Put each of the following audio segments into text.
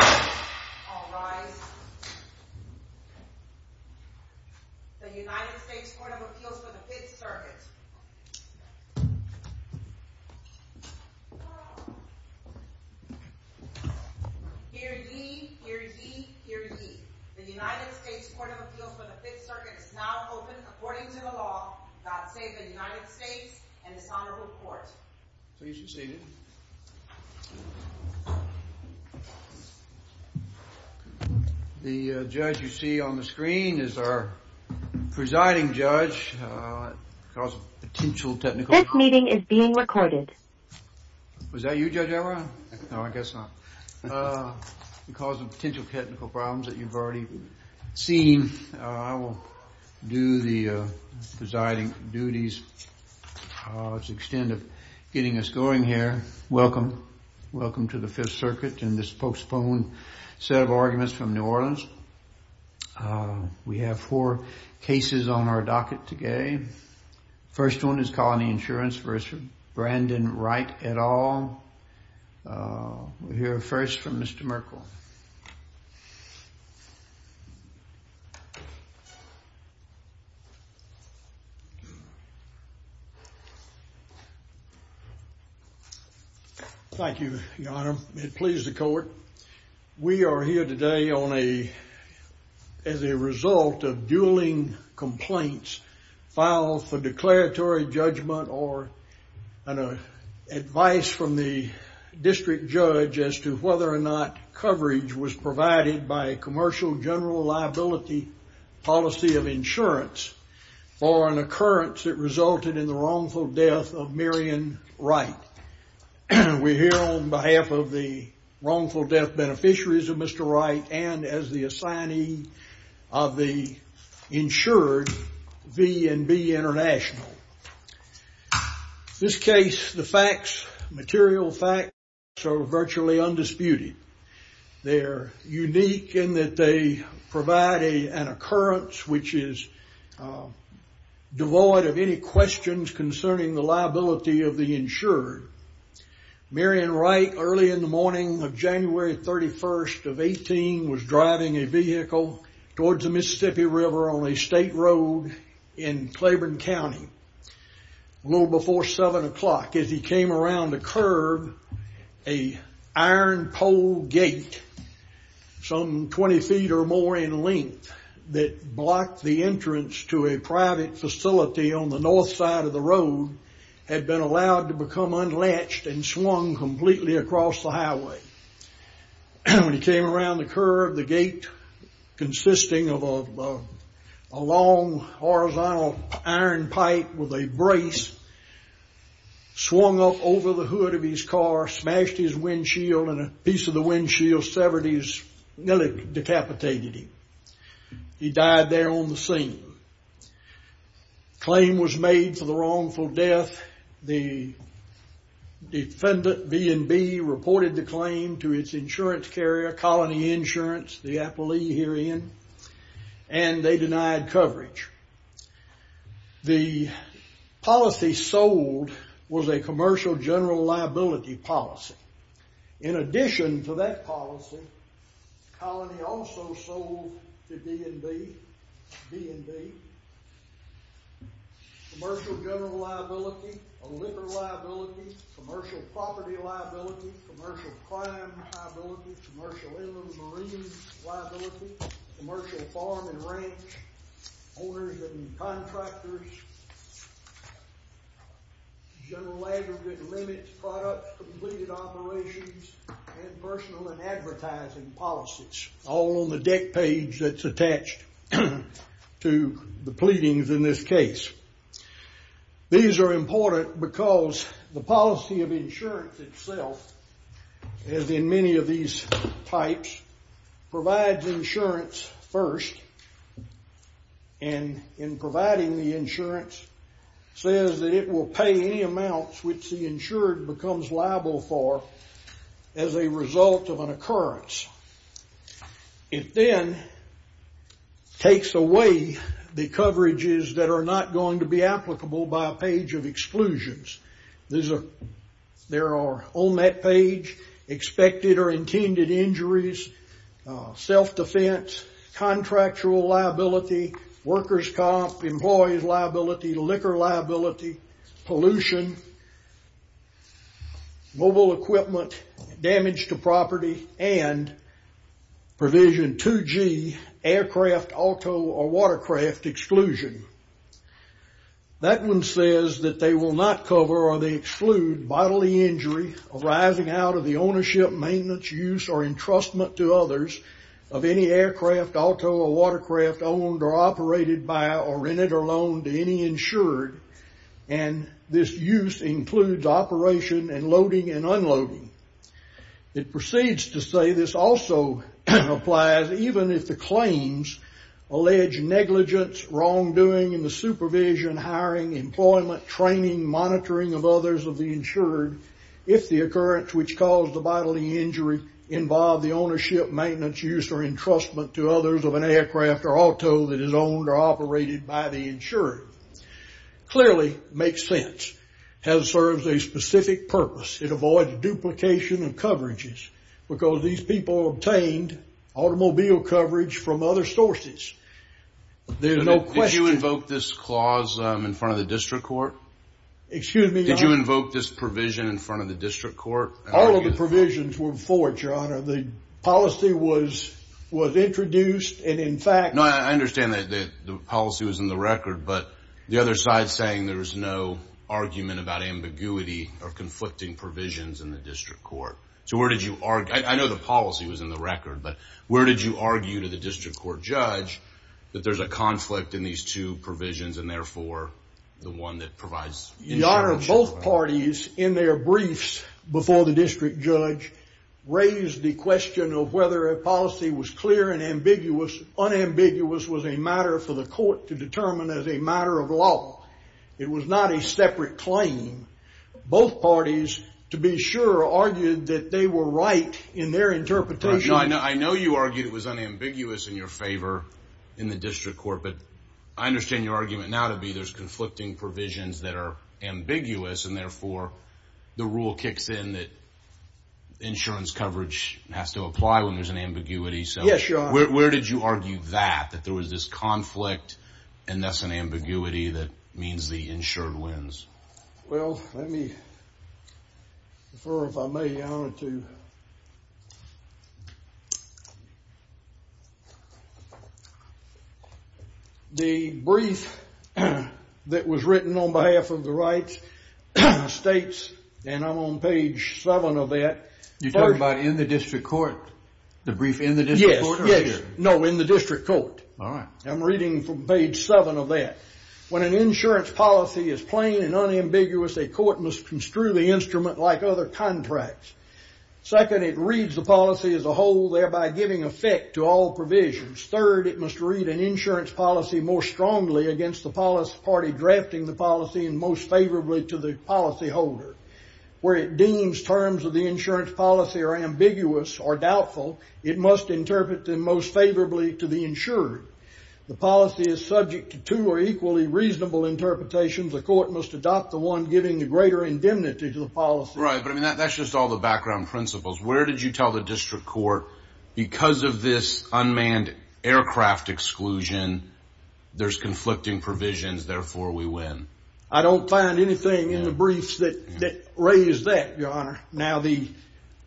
All rise. The United States Court of Appeals for the 5th Circuit. Hear ye, hear ye, hear ye. The United States Court of Appeals for the 5th Circuit is now open according to the law. God save the United States and this Honorable Court. Please be seated. The judge you see on the screen is our presiding judge because of potential technical problems. This meeting is being recorded. Was that you, Judge Everett? No, I guess not. Because of potential technical problems that you've already seen, I will do the presiding duties. To the extent of getting us going here, welcome. Welcome to the 5th Circuit and this postponed set of arguments from New Orleans. We have four cases on our docket today. First one is Colony Insurance v. Brandon Wright et al. We'll hear first from Mr. Merkle. Thank you, Your Honor. It pleases the court. We are here today as a result of dueling complaints filed for declaratory judgment or advice from the district judge as to whether or not coverage was provided by a commercial general liability policy of insurance for an occurrence that resulted in the wrongful death of Miriam Wright. We're here on behalf of the wrongful death beneficiaries of Mr. Wright and as the assignee of the insured, V&B International. In this case, the facts, material facts, are virtually undisputed. They're unique in that they provide an occurrence which is devoid of any questions concerning the liability of the insured. Miriam Wright, early in the morning of January 31st of 18, was driving a vehicle towards the Mississippi River on a state road in Claiborne County. A little before 7 o'clock, as he came around a curb, an iron pole gate some 20 feet or more in length that blocked the entrance to a private facility on the north side of the road had been allowed to become unlatched and swung completely across the highway. When he came around the curb, the gate, consisting of a long horizontal iron pipe with a brace, swung up over the hood of his car, smashed his windshield, and a piece of the windshield severed and decapitated him. He died there on the scene. A claim was made for the wrongful death. The defendant, V&B, reported the claim to its insurance carrier, Colony Insurance, the appellee herein, and they denied coverage. The policy sold was a commercial general liability policy. In addition to that policy, Colony also sold to V&B commercial general liability, a liver liability, commercial property liability, commercial crime liability, commercial inland marine liability, commercial farm and ranch owners and contractors, general aggregate limits, products, completed operations, and personal and advertising policies, all on the deck page that's attached to the pleadings in this case. These are important because the policy of insurance itself, as in many of these types, provides insurance first, and in providing the insurance, says that it will pay any amounts which the insured becomes liable for as a result of an occurrence. It then takes away the coverages that are not going to be applicable by a page of exclusions. There are on that page expected or intended injuries, self-defense, contractual liability, workers' comp, employees' liability, liquor liability, pollution, mobile equipment, damage to property, and provision 2G aircraft, auto, or watercraft exclusion. That one says that they will not cover or they exclude bodily injury arising out of the ownership, maintenance, use, or entrustment to others of any aircraft, auto, or watercraft owned or operated by or rented or loaned to any insured, and this use includes operation and loading and unloading. It proceeds to say this also applies even if the claims allege negligence, wrongdoing in the supervision, hiring, employment, training, monitoring of others of the insured if the occurrence which caused the bodily injury involved the ownership, maintenance, use, or entrustment to others of an aircraft or auto that is owned or operated by the insured. Clearly makes sense and serves a specific purpose. It avoids duplication of coverages because these people obtained automobile coverage from other sources. There's no question. Did you invoke this clause in front of the district court? Excuse me? Did you invoke this provision in front of the district court? All of the provisions were for it, Your Honor. The policy was introduced and, in fact— No, I understand that the policy was in the record, but the other side's saying there's no argument about ambiguity or conflicting provisions in the district court. So where did you argue? I know the policy was in the record, but where did you argue to the district court judge that there's a conflict in these two provisions and, therefore, the one that provides— Your Honor, both parties, in their briefs before the district judge, raised the question of whether a policy was clear and ambiguous. Unambiguous was a matter for the court to determine as a matter of law. It was not a separate claim. Both parties, to be sure, argued that they were right in their interpretation. I know you argued it was unambiguous in your favor in the district court, but I understand your argument now to be there's conflicting provisions that are ambiguous and, therefore, the rule kicks in that insurance coverage has to apply when there's an ambiguity. Yes, Your Honor. So where did you argue that, that there was this conflict and thus an ambiguity that means the insured wins? Well, let me, if I may, Your Honor, to— on behalf of the rights and the states, and I'm on page 7 of that. You're talking about in the district court, the brief in the district court? Yes, yes. No, in the district court. All right. I'm reading from page 7 of that. When an insurance policy is plain and unambiguous, a court must construe the instrument like other contracts. Second, it reads the policy as a whole, thereby giving effect to all provisions. Third, it must read an insurance policy more strongly against the party drafting the policy and most favorably to the policyholder. Where it deems terms of the insurance policy are ambiguous or doubtful, it must interpret them most favorably to the insured. The policy is subject to two or equally reasonable interpretations. A court must adopt the one giving the greater indemnity to the policy. Right, but, I mean, that's just all the background principles. Where did you tell the district court because of this unmanned aircraft exclusion there's conflicting provisions, therefore we win? I don't find anything in the briefs that raise that, Your Honor. Now the—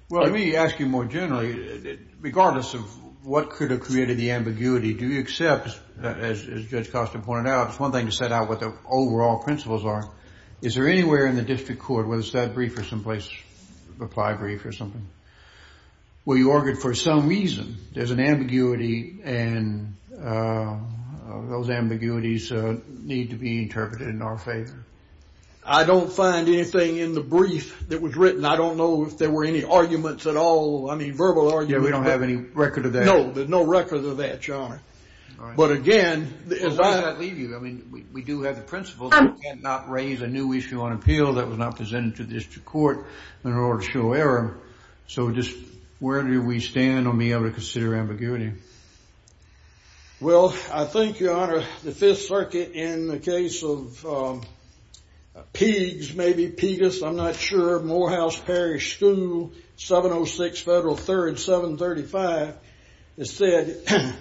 Well, let me ask you more generally. Regardless of what could have created the ambiguity, do you accept, as Judge Costa pointed out, it's one thing to set out what the overall principles are. Is there anywhere in the district court, whether it's that brief or some place, reply brief or something, where you argue for some reason there's an ambiguity and those ambiguities need to be interpreted in our favor? I don't find anything in the brief that was written. I don't know if there were any arguments at all. I mean, verbal arguments. Yeah, we don't have any record of that. No, there's no record of that, Your Honor. All right. But, again, as I— Well, why did I leave you? I mean, we do have the principles. We cannot raise a new issue on appeal that was not presented to the district court in order to show error. So just where do we stand on being able to consider ambiguity? Well, I think, Your Honor, the Fifth Circuit, in the case of Peegs, maybe Peegus, I'm not sure, Morehouse Parish School, 706 Federal 3rd, 735, has said,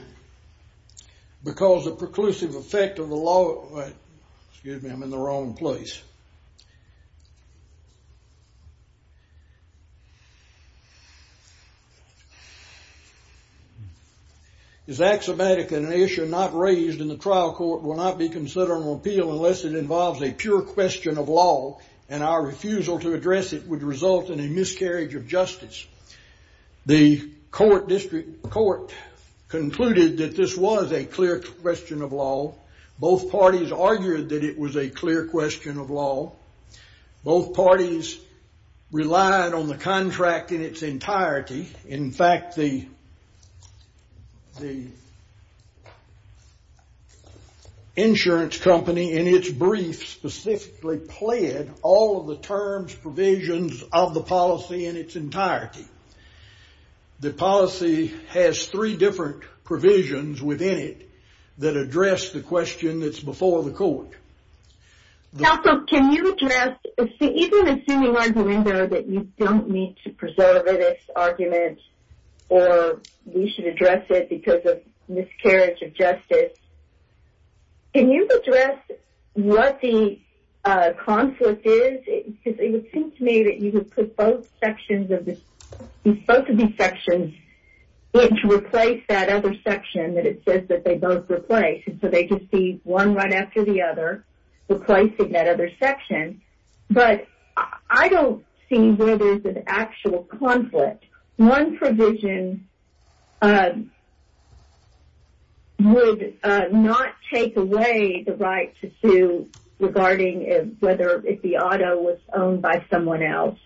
because the preclusive effect of the law— excuse me, I'm in the wrong place. Is axiomatic and an issue not raised in the trial court will not be considered on appeal unless it involves a pure question of law and our refusal to address it would result in a miscarriage of justice. The district court concluded that this was a clear question of law. Both parties argued that it was a clear question of law. Both parties relied on the contract in its entirety. In fact, the insurance company, in its brief, specifically pled all of the terms, provisions of the policy in its entirety. The policy has three different provisions within it that address the question that's before the court. Counsel, can you address— even assuming, I believe, that you don't need to preserve this argument or we should address it because of miscarriage of justice, can you address what the conflict is? Because it would seem to me that you would put both sections of this— both of these sections in to replace that other section that it says that they both replace, and so they could see one right after the other replacing that other section. But I don't see where there's an actual conflict. One provision would not take away the right to sue regarding whether the auto was owned by someone else,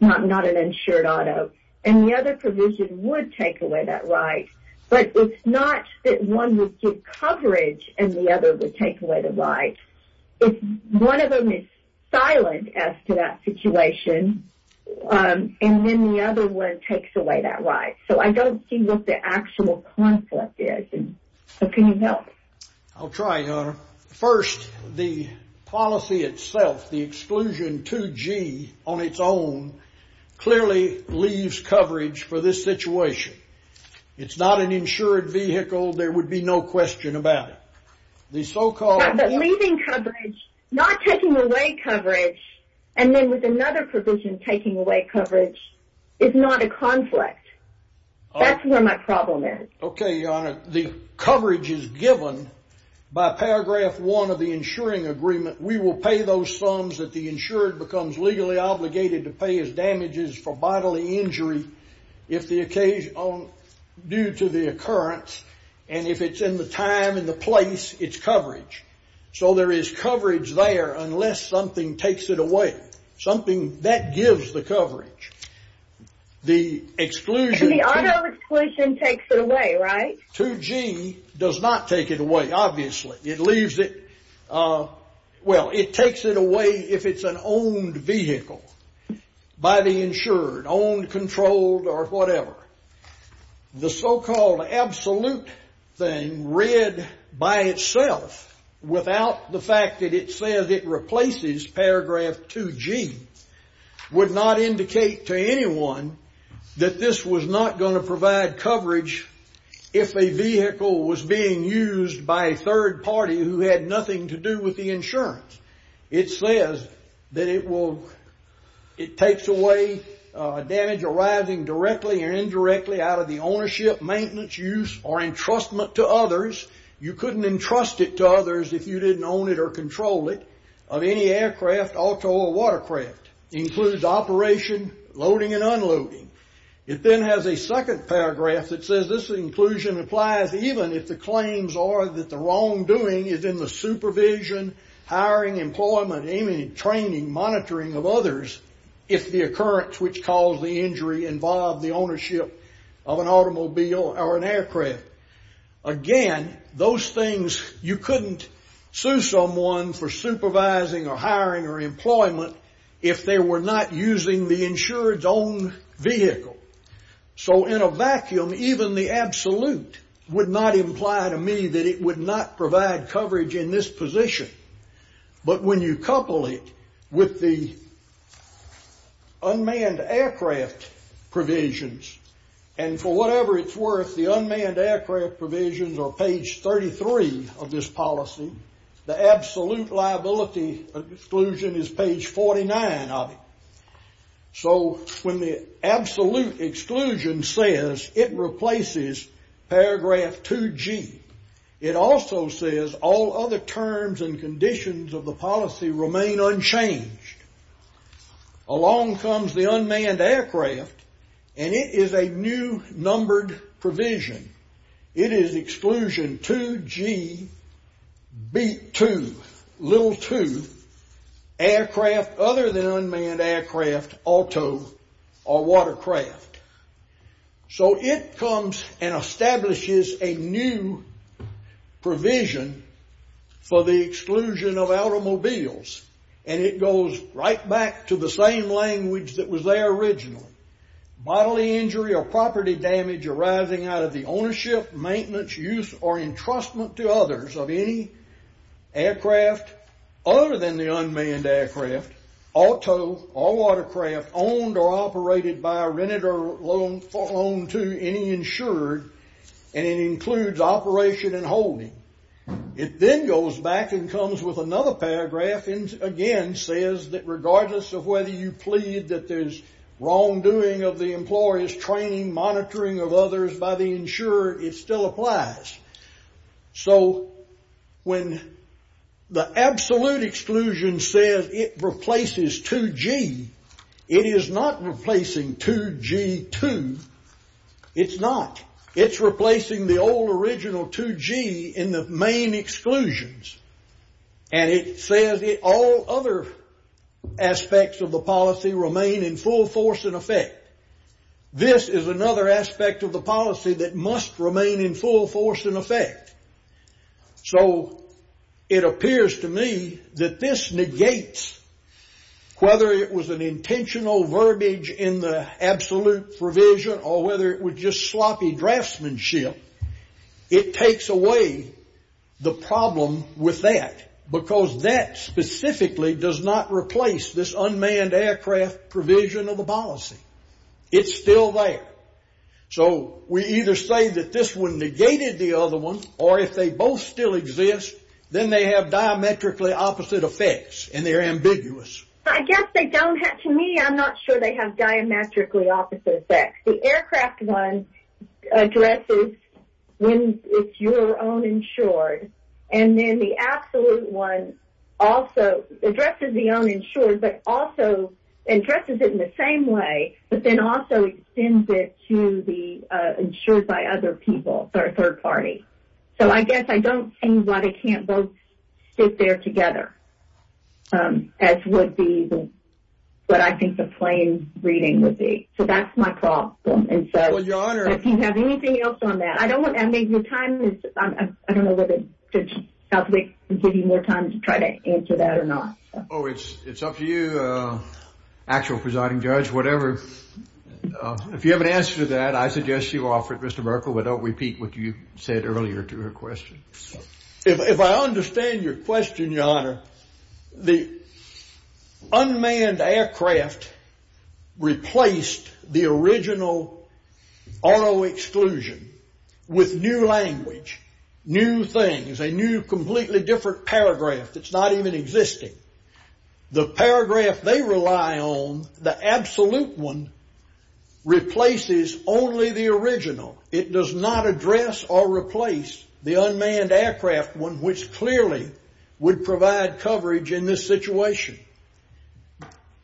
not an insured auto. And the other provision would take away that right. But it's not that one would give coverage and the other would take away the right. If one of them is silent as to that situation and then the other one takes away that right. So I don't see what the actual conflict is. So can you help? I'll try, Your Honor. First, the policy itself, the exclusion 2G on its own, clearly leaves coverage for this situation. It's not an insured vehicle. There would be no question about it. The so-called— But leaving coverage, not taking away coverage, and then with another provision taking away coverage, is not a conflict. That's where my problem is. Okay, Your Honor. The coverage is given by Paragraph 1 of the insuring agreement. We will pay those sums that the insured becomes legally obligated to pay as damages for bodily injury due to the occurrence, and if it's in the time and the place, it's coverage. So there is coverage there unless something takes it away, something that gives the coverage. The exclusion— The auto exclusion takes it away, right? 2G does not take it away, obviously. It leaves it—well, it takes it away if it's an owned vehicle by the insured, owned, controlled, or whatever. The so-called absolute thing read by itself without the fact that it says it replaces Paragraph 2G would not indicate to anyone that this was not going to provide coverage if a vehicle was being used by a third party who had nothing to do with the insurance. It says that it takes away damage arising directly or indirectly out of the ownership, maintenance, use, or entrustment to others. You couldn't entrust it to others if you didn't own it or control it of any aircraft, auto, or watercraft. It includes operation, loading, and unloading. It then has a second paragraph that says this inclusion applies even if the claims are that the wrongdoing is in the supervision, hiring, employment, training, monitoring of others if the occurrence which caused the injury involved the ownership of an automobile or an aircraft. Again, those things you couldn't sue someone for supervising or hiring or employment if they were not using the insured's own vehicle. So in a vacuum, even the absolute would not imply to me that it would not provide coverage in this position. But when you couple it with the unmanned aircraft provisions, and for whatever it's worth, the unmanned aircraft provisions are page 33 of this policy. The absolute liability exclusion is page 49 of it. So when the absolute exclusion says it replaces paragraph 2G, it also says all other terms and conditions of the policy remain unchanged. Along comes the unmanned aircraft, and it is a new numbered provision. It is exclusion 2GB2, little 2, aircraft other than unmanned aircraft, auto, or watercraft. So it comes and establishes a new provision for the exclusion of automobiles, and it goes right back to the same language that was there originally. Bodily injury or property damage arising out of the ownership, maintenance, use, or entrustment to others of any aircraft other than the unmanned aircraft, auto, or watercraft, owned or operated by, rented or loaned to any insured, and it includes operation and holding. It then goes back and comes with another paragraph, and again, it says that regardless of whether you plead that there's wrongdoing of the employer's training, monitoring of others by the insurer, it still applies. So when the absolute exclusion says it replaces 2G, it is not replacing 2G2. It's not. It's replacing the old original 2G in the main exclusions, and it says all other aspects of the policy remain in full force and effect. This is another aspect of the policy that must remain in full force and effect. So it appears to me that this negates whether it was an intentional verbiage in the absolute provision or whether it was just sloppy draftsmanship, it takes away the problem with that because that specifically does not replace this unmanned aircraft provision of the policy. It's still there. So we either say that this one negated the other one, or if they both still exist, then they have diametrically opposite effects, and they're ambiguous. I guess they don't. To me, I'm not sure they have diametrically opposite effects. The aircraft one addresses when it's your own insured, and then the absolute one also addresses the own insured but also addresses it in the same way but then also extends it to the insured by other people, third party. So I guess I don't see why they can't both stick there together, as would be what I think the plain reading would be. So that's my problem. If you have anything else on that. I don't know whether Judge Southwick would give you more time to try to answer that or not. It's up to you, actual presiding judge, whatever. If you have an answer to that, I suggest you offer it, Mr. Merkel, but don't repeat what you said earlier to her question. If I understand your question, your honor, the unmanned aircraft replaced the original RO exclusion with new language, new things, a new completely different paragraph that's not even existing. The paragraph they rely on, the absolute one, replaces only the original. It does not address or replace the unmanned aircraft, which clearly would provide coverage in this situation.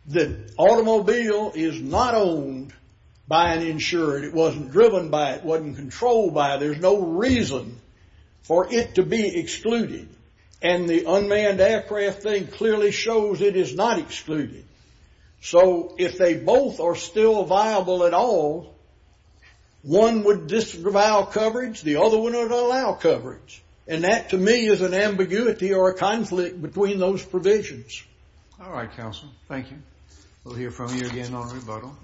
The automobile is not owned by an insured. It wasn't driven by it. It wasn't controlled by it. There's no reason for it to be excluded, and the unmanned aircraft thing clearly shows it is not excluded. So if they both are still viable at all, one would disavow coverage. The other one would allow coverage, and that to me is an ambiguity or a conflict between those provisions. All right, counsel. Thank you. We'll hear from you again on rebuttal.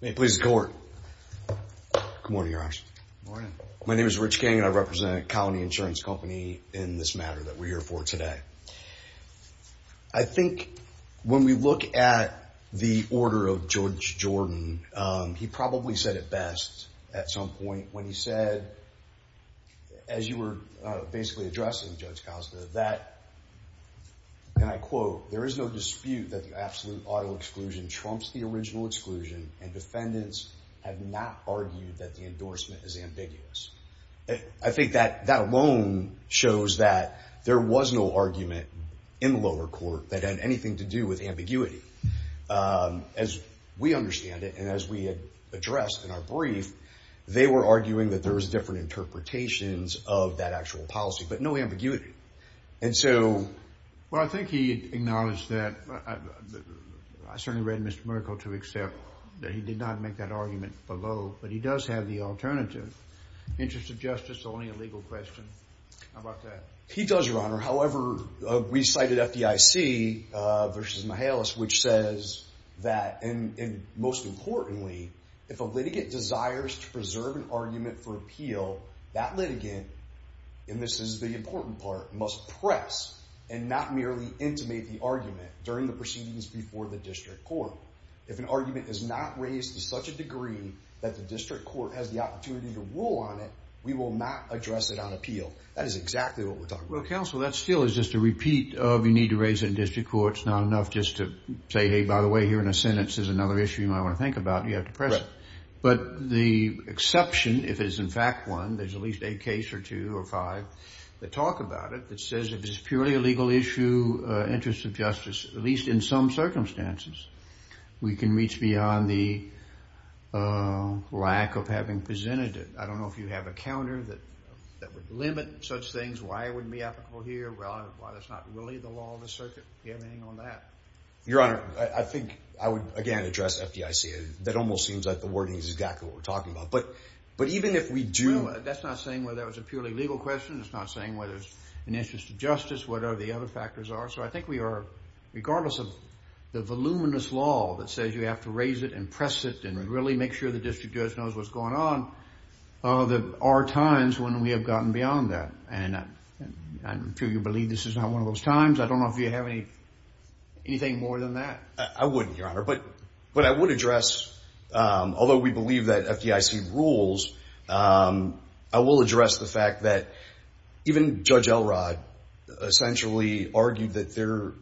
May it please the Court. Good morning, Your Honor. Good morning. My name is Rich King, and I represent Colony Insurance Company in this matter that we're here for today. I think when we look at the order of Judge Jordan, he probably said it best at some point when he said, as you were basically addressing, Judge Costa, that, and I quote, there is no dispute that the absolute auto exclusion trumps the original exclusion, and defendants have not argued that the endorsement is ambiguous. I think that alone shows that there was no argument in the lower court that had anything to do with ambiguity. As we understand it, and as we addressed in our brief, they were arguing that there was different interpretations of that actual policy, but no ambiguity. And so. Well, I think he acknowledged that. I certainly read Mr. Merkle to accept that he did not make that argument below, but he does have the alternative. Interest of justice, only a legal question. How about that? He does, Your Honor. However, we cited FDIC versus Mahalis, which says that, and most importantly, if a litigant desires to preserve an argument for appeal, that litigant, and this is the important part, must press and not merely intimate the argument during the proceedings before the district court. If an argument is not raised to such a degree that the district court has the opportunity to rule on it, we will not address it on appeal. That is exactly what we're talking about. Well, counsel, that still is just a repeat of you need to raise it in district court. It's not enough just to say, hey, by the way, here in a sentence is another issue you might want to think about. You have to press it. But the exception, if it is in fact one, there's at least a case or two or five that talk about it, that says if it's purely a legal issue, interest of justice, at least in some circumstances, we can reach beyond the lack of having presented it. I don't know if you have a counter that would limit such things. Why it wouldn't be applicable here? Why that's not really the law of the circuit? Do you have anything on that? Your Honor, I think I would, again, address FDIC. That almost seems like the wording is exactly what we're talking about. But even if we do – Well, that's not saying whether that was a purely legal question. It's not saying whether it's an interest of justice, whatever the other factors are. So I think we are, regardless of the voluminous law that says you have to raise it and press it and really make sure the district judge knows what's going on, there are times when we have gotten beyond that. And I'm sure you believe this is not one of those times. I don't know if you have anything more than that. I wouldn't, Your Honor. But I would address, although we believe that FDIC rules, I will address the fact that even Judge Elrod essentially argued that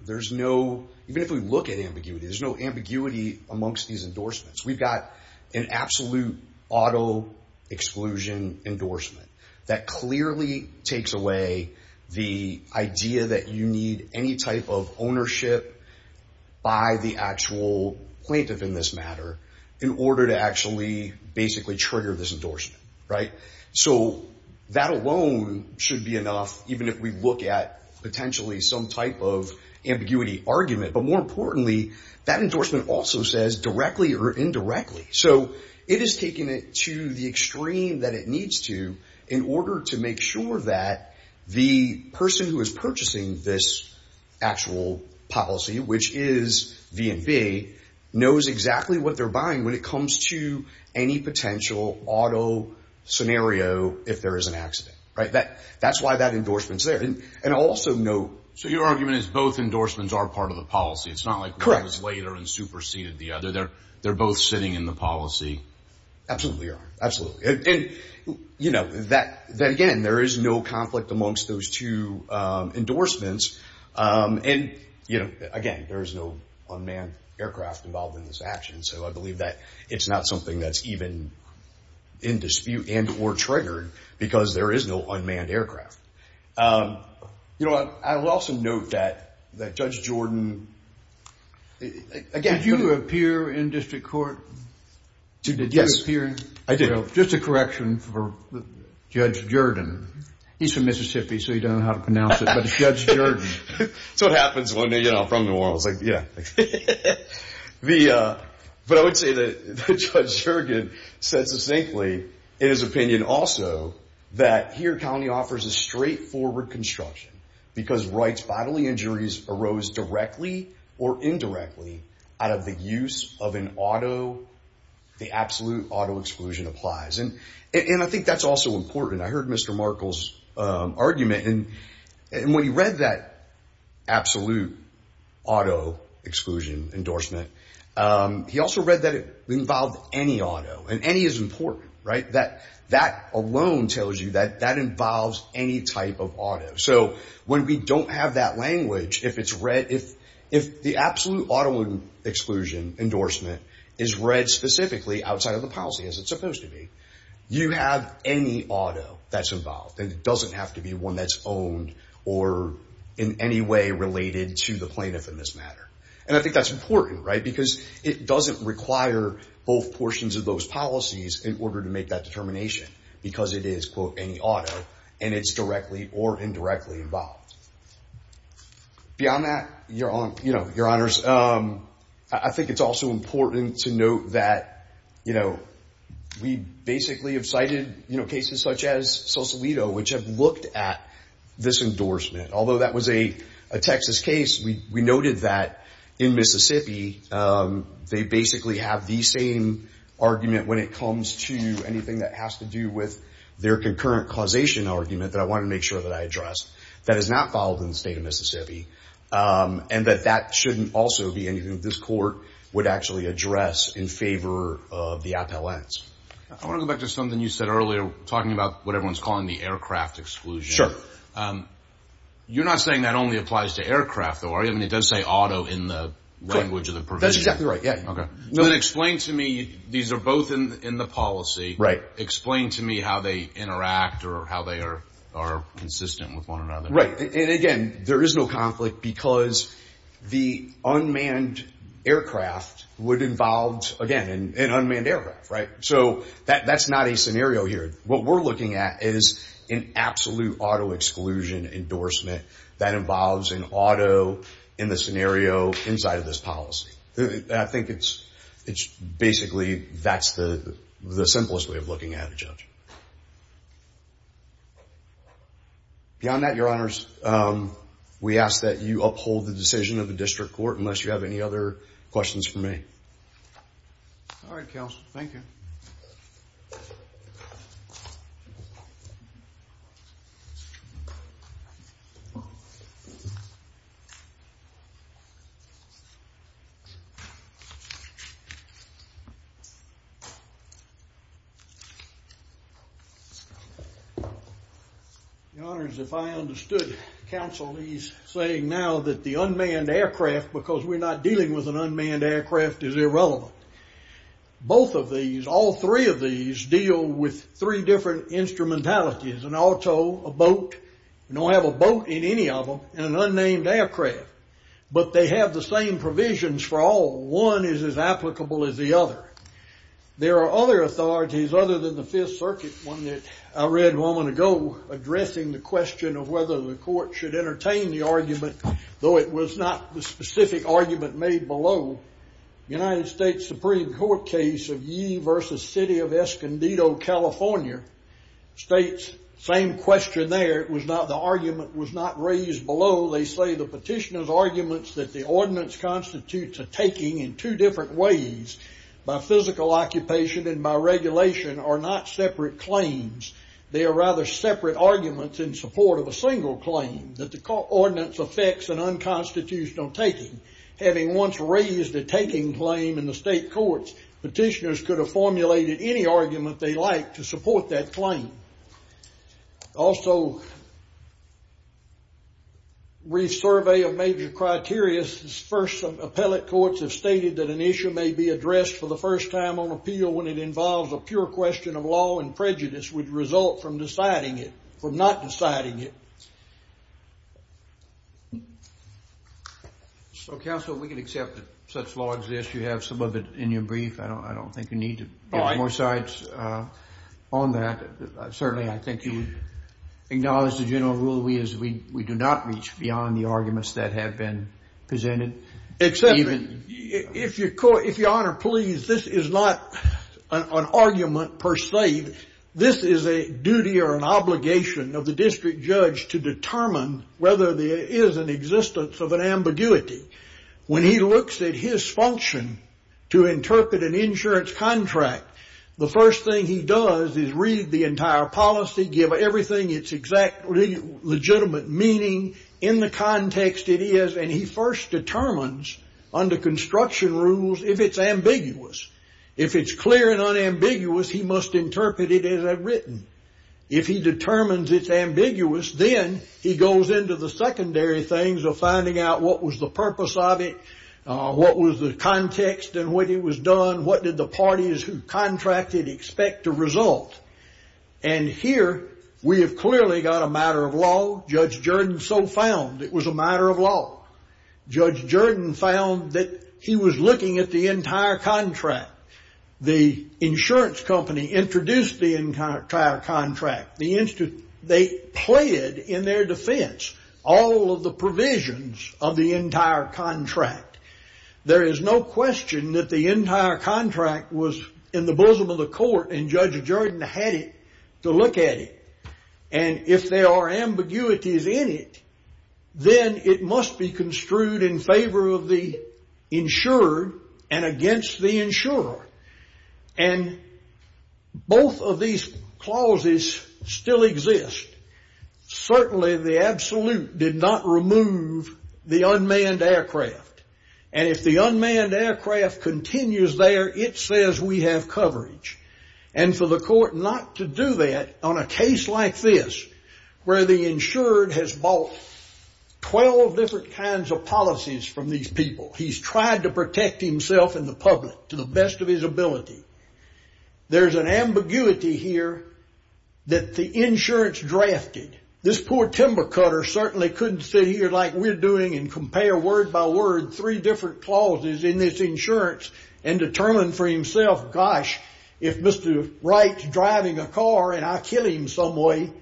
there's no – even if we look at ambiguity, there's no ambiguity amongst these endorsements. We've got an absolute auto-exclusion endorsement that clearly takes away the idea that you need any type of ownership by the actual plaintiff in this matter in order to actually basically trigger this endorsement, right? So that alone should be enough, even if we look at potentially some type of ambiguity argument. But more importantly, that endorsement also says directly or indirectly. So it has taken it to the extreme that it needs to in order to make sure that the person who is purchasing this actual policy, which is V&V, knows exactly what they're buying when it comes to any potential auto scenario if there is an accident. That's why that endorsement is there. So your argument is both endorsements are part of the policy. It's not like one is later and superseded the other. They're both sitting in the policy. Absolutely, Your Honor. Absolutely. And, you know, again, there is no conflict amongst those two endorsements. And, you know, again, there is no unmanned aircraft involved in this action. So I believe that it's not something that's even in dispute and or triggered because there is no unmanned aircraft. You know what? I will also note that Judge Jordan, again- Did you appear in district court? Yes. Did you appear? I did. Just a correction for Judge Jordan. He's from Mississippi, so he doesn't know how to pronounce it. But it's Judge Jordan. That's what happens when they're, you know, from New Orleans. Like, yeah. But I would say that Judge Jordan said succinctly in his opinion also that here county offers a straightforward construction because rights bodily injuries arose directly or indirectly out of the use of an auto. The absolute auto exclusion applies. And I think that's also important. I heard Mr. Markle's argument. And when he read that absolute auto exclusion endorsement, he also read that it involved any auto. And any is important, right? That alone tells you that that involves any type of auto. So when we don't have that language, if it's read- if the absolute auto exclusion endorsement is read specifically outside of the policy as it's supposed to be, you have any auto that's involved. And it doesn't have to be one that's owned or in any way related to the plaintiff in this matter. And I think that's important, right, because it doesn't require both portions of those policies in order to make that determination because it is, quote, any auto, and it's directly or indirectly involved. Beyond that, Your Honors, I think it's also important to note that, you know, we basically have cited cases such as Sausalito, which have looked at this endorsement. Although that was a Texas case, we noted that in Mississippi they basically have the same argument when it comes to anything that has to do with their concurrent causation argument that I want to make sure that I address. That is not followed in the state of Mississippi. And that that shouldn't also be anything that this court would actually address in favor of the appellants. I want to go back to something you said earlier, talking about what everyone's calling the aircraft exclusion. Sure. You're not saying that only applies to aircraft, though, are you? I mean, it does say auto in the language of the provision. That's exactly right, yeah. Okay. So then explain to me, these are both in the policy. Right. Explain to me how they interact or how they are consistent with one another. Right. And, again, there is no conflict because the unmanned aircraft would involve, again, an unmanned aircraft, right? So that's not a scenario here. What we're looking at is an absolute auto exclusion endorsement that involves an auto in the scenario inside of this policy. I think it's basically that's the simplest way of looking at it, Judge. Beyond that, Your Honors, we ask that you uphold the decision of the district court unless you have any other questions for me. All right, Counsel. Thank you. Your Honors, if I understood, Counsel, he's saying now that the unmanned aircraft, because we're not dealing with an unmanned aircraft, is irrelevant. Both of these, all three of these, deal with three different instrumentalities, an auto, a boat. We don't have a boat in any of them, and an unnamed aircraft. But they have the same provisions for all. One is as applicable as the other. There are other authorities other than the Fifth Circuit, one that I read a moment ago, addressing the question of whether the court should entertain the argument, though it was not the specific argument made below. The United States Supreme Court case of Yee v. City of Escondido, California states the same question there. It was not the argument was not raised below. They say the petitioner's arguments that the ordinance constitutes a taking in two different ways, by physical occupation and by regulation, are not separate claims. They are rather separate arguments in support of a single claim, that the ordinance affects an unconstitutional taking. Having once raised a taking claim in the state courts, petitioners could have formulated any argument they liked to support that claim. Also, brief survey of major criteria. First, some appellate courts have stated that an issue may be addressed for the first time on appeal when it involves a pure question of law and prejudice would result from deciding it, from not deciding it. So, counsel, we can accept that such law exists. You have some of it in your brief. I don't think you need to give more sides on that. Certainly, I think you acknowledge the general rule is we do not reach beyond the arguments that have been presented. Except, if Your Honor, please, this is not an argument per se. This is a duty or an obligation of the district judge to determine whether there is an existence of an ambiguity. When he looks at his function to interpret an insurance contract, the first thing he does is read the entire policy, give everything its exact legitimate meaning, in the context it is, and he first determines, under construction rules, if it's ambiguous. If it's clear and unambiguous, he must interpret it as I've written. If he determines it's ambiguous, then he goes into the secondary things of finding out what was the purpose of it, what was the context in which it was done, what did the parties who contracted expect to result. And here, we have clearly got a matter of law. Judge Jordan so found it was a matter of law. Judge Jordan found that he was looking at the entire contract. The insurance company introduced the entire contract. They pled in their defense all of the provisions of the entire contract. There is no question that the entire contract was in the bosom of the court, and Judge Jordan had to look at it. And if there are ambiguities in it, then it must be construed in favor of the insurer and against the insurer. And both of these clauses still exist. Certainly, the absolute did not remove the unmanned aircraft. And if the unmanned aircraft continues there, it says we have coverage. And for the court not to do that on a case like this, where the insured has bought 12 different kinds of policies from these people. He's tried to protect himself and the public to the best of his ability. There's an ambiguity here that the insurance drafted. This poor timber cutter certainly couldn't sit here like we're doing and compare word by word three different clauses in this insurance and determine for himself, gosh, if Mr. Wright's driving a car and I kill him some way,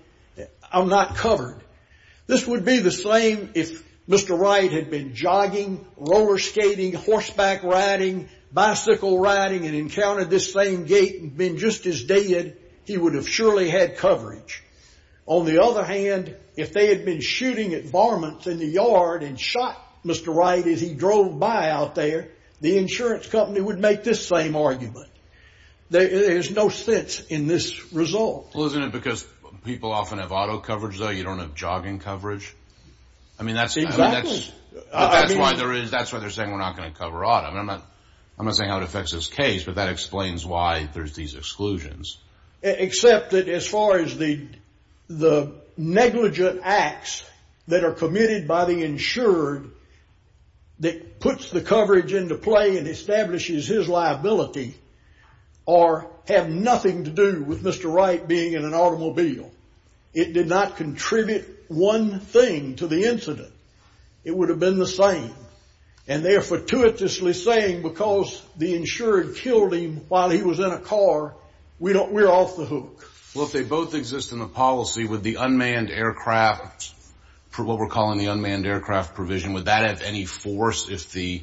I'm not covered. This would be the same if Mr. Wright had been jogging, roller skating, horseback riding, bicycle riding, and encountered this same gate and been just as dead. He would have surely had coverage. On the other hand, if they had been shooting at barmen in the yard and shot Mr. Wright as he drove by out there, the insurance company would make this same argument. There's no sense in this result. Well, isn't it because people often have auto coverage, though you don't have jogging coverage? I mean, that's why they're saying we're not going to cover auto. I'm not saying how it affects this case, but that explains why there's these exclusions. Except that as far as the negligent acts that are committed by the insured that puts the coverage into play and establishes his liability or have nothing to do with Mr. Wright being in an automobile. It did not contribute one thing to the incident. It would have been the same. And they're fortuitously saying because the insured killed him while he was in a car, we're off the hook. Well, if they both exist in the policy, would the unmanned aircraft, what we're calling the unmanned aircraft provision, would that have any force if the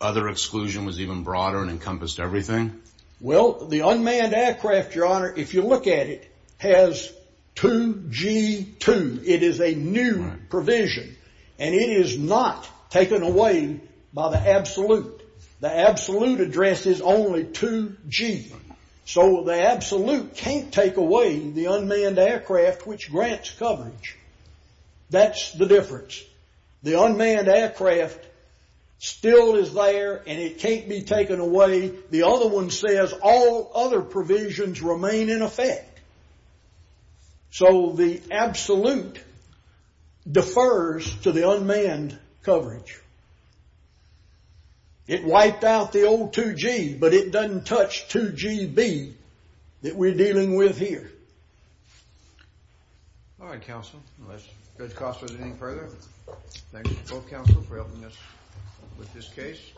other exclusion was even broader and encompassed everything? Well, the unmanned aircraft, Your Honor, if you look at it, has 2G2. It is a new provision, and it is not taken away by the absolute. The absolute address is only 2G. So the absolute can't take away the unmanned aircraft, which grants coverage. That's the difference. The unmanned aircraft still is there, and it can't be taken away. The other one says all other provisions remain in effect. So the absolute defers to the unmanned coverage. It wiped out the old 2G, but it doesn't touch 2GB that we're dealing with here. All right, counsel. Unless Judge Costa has anything further, thanks to both counsel for helping us with this case.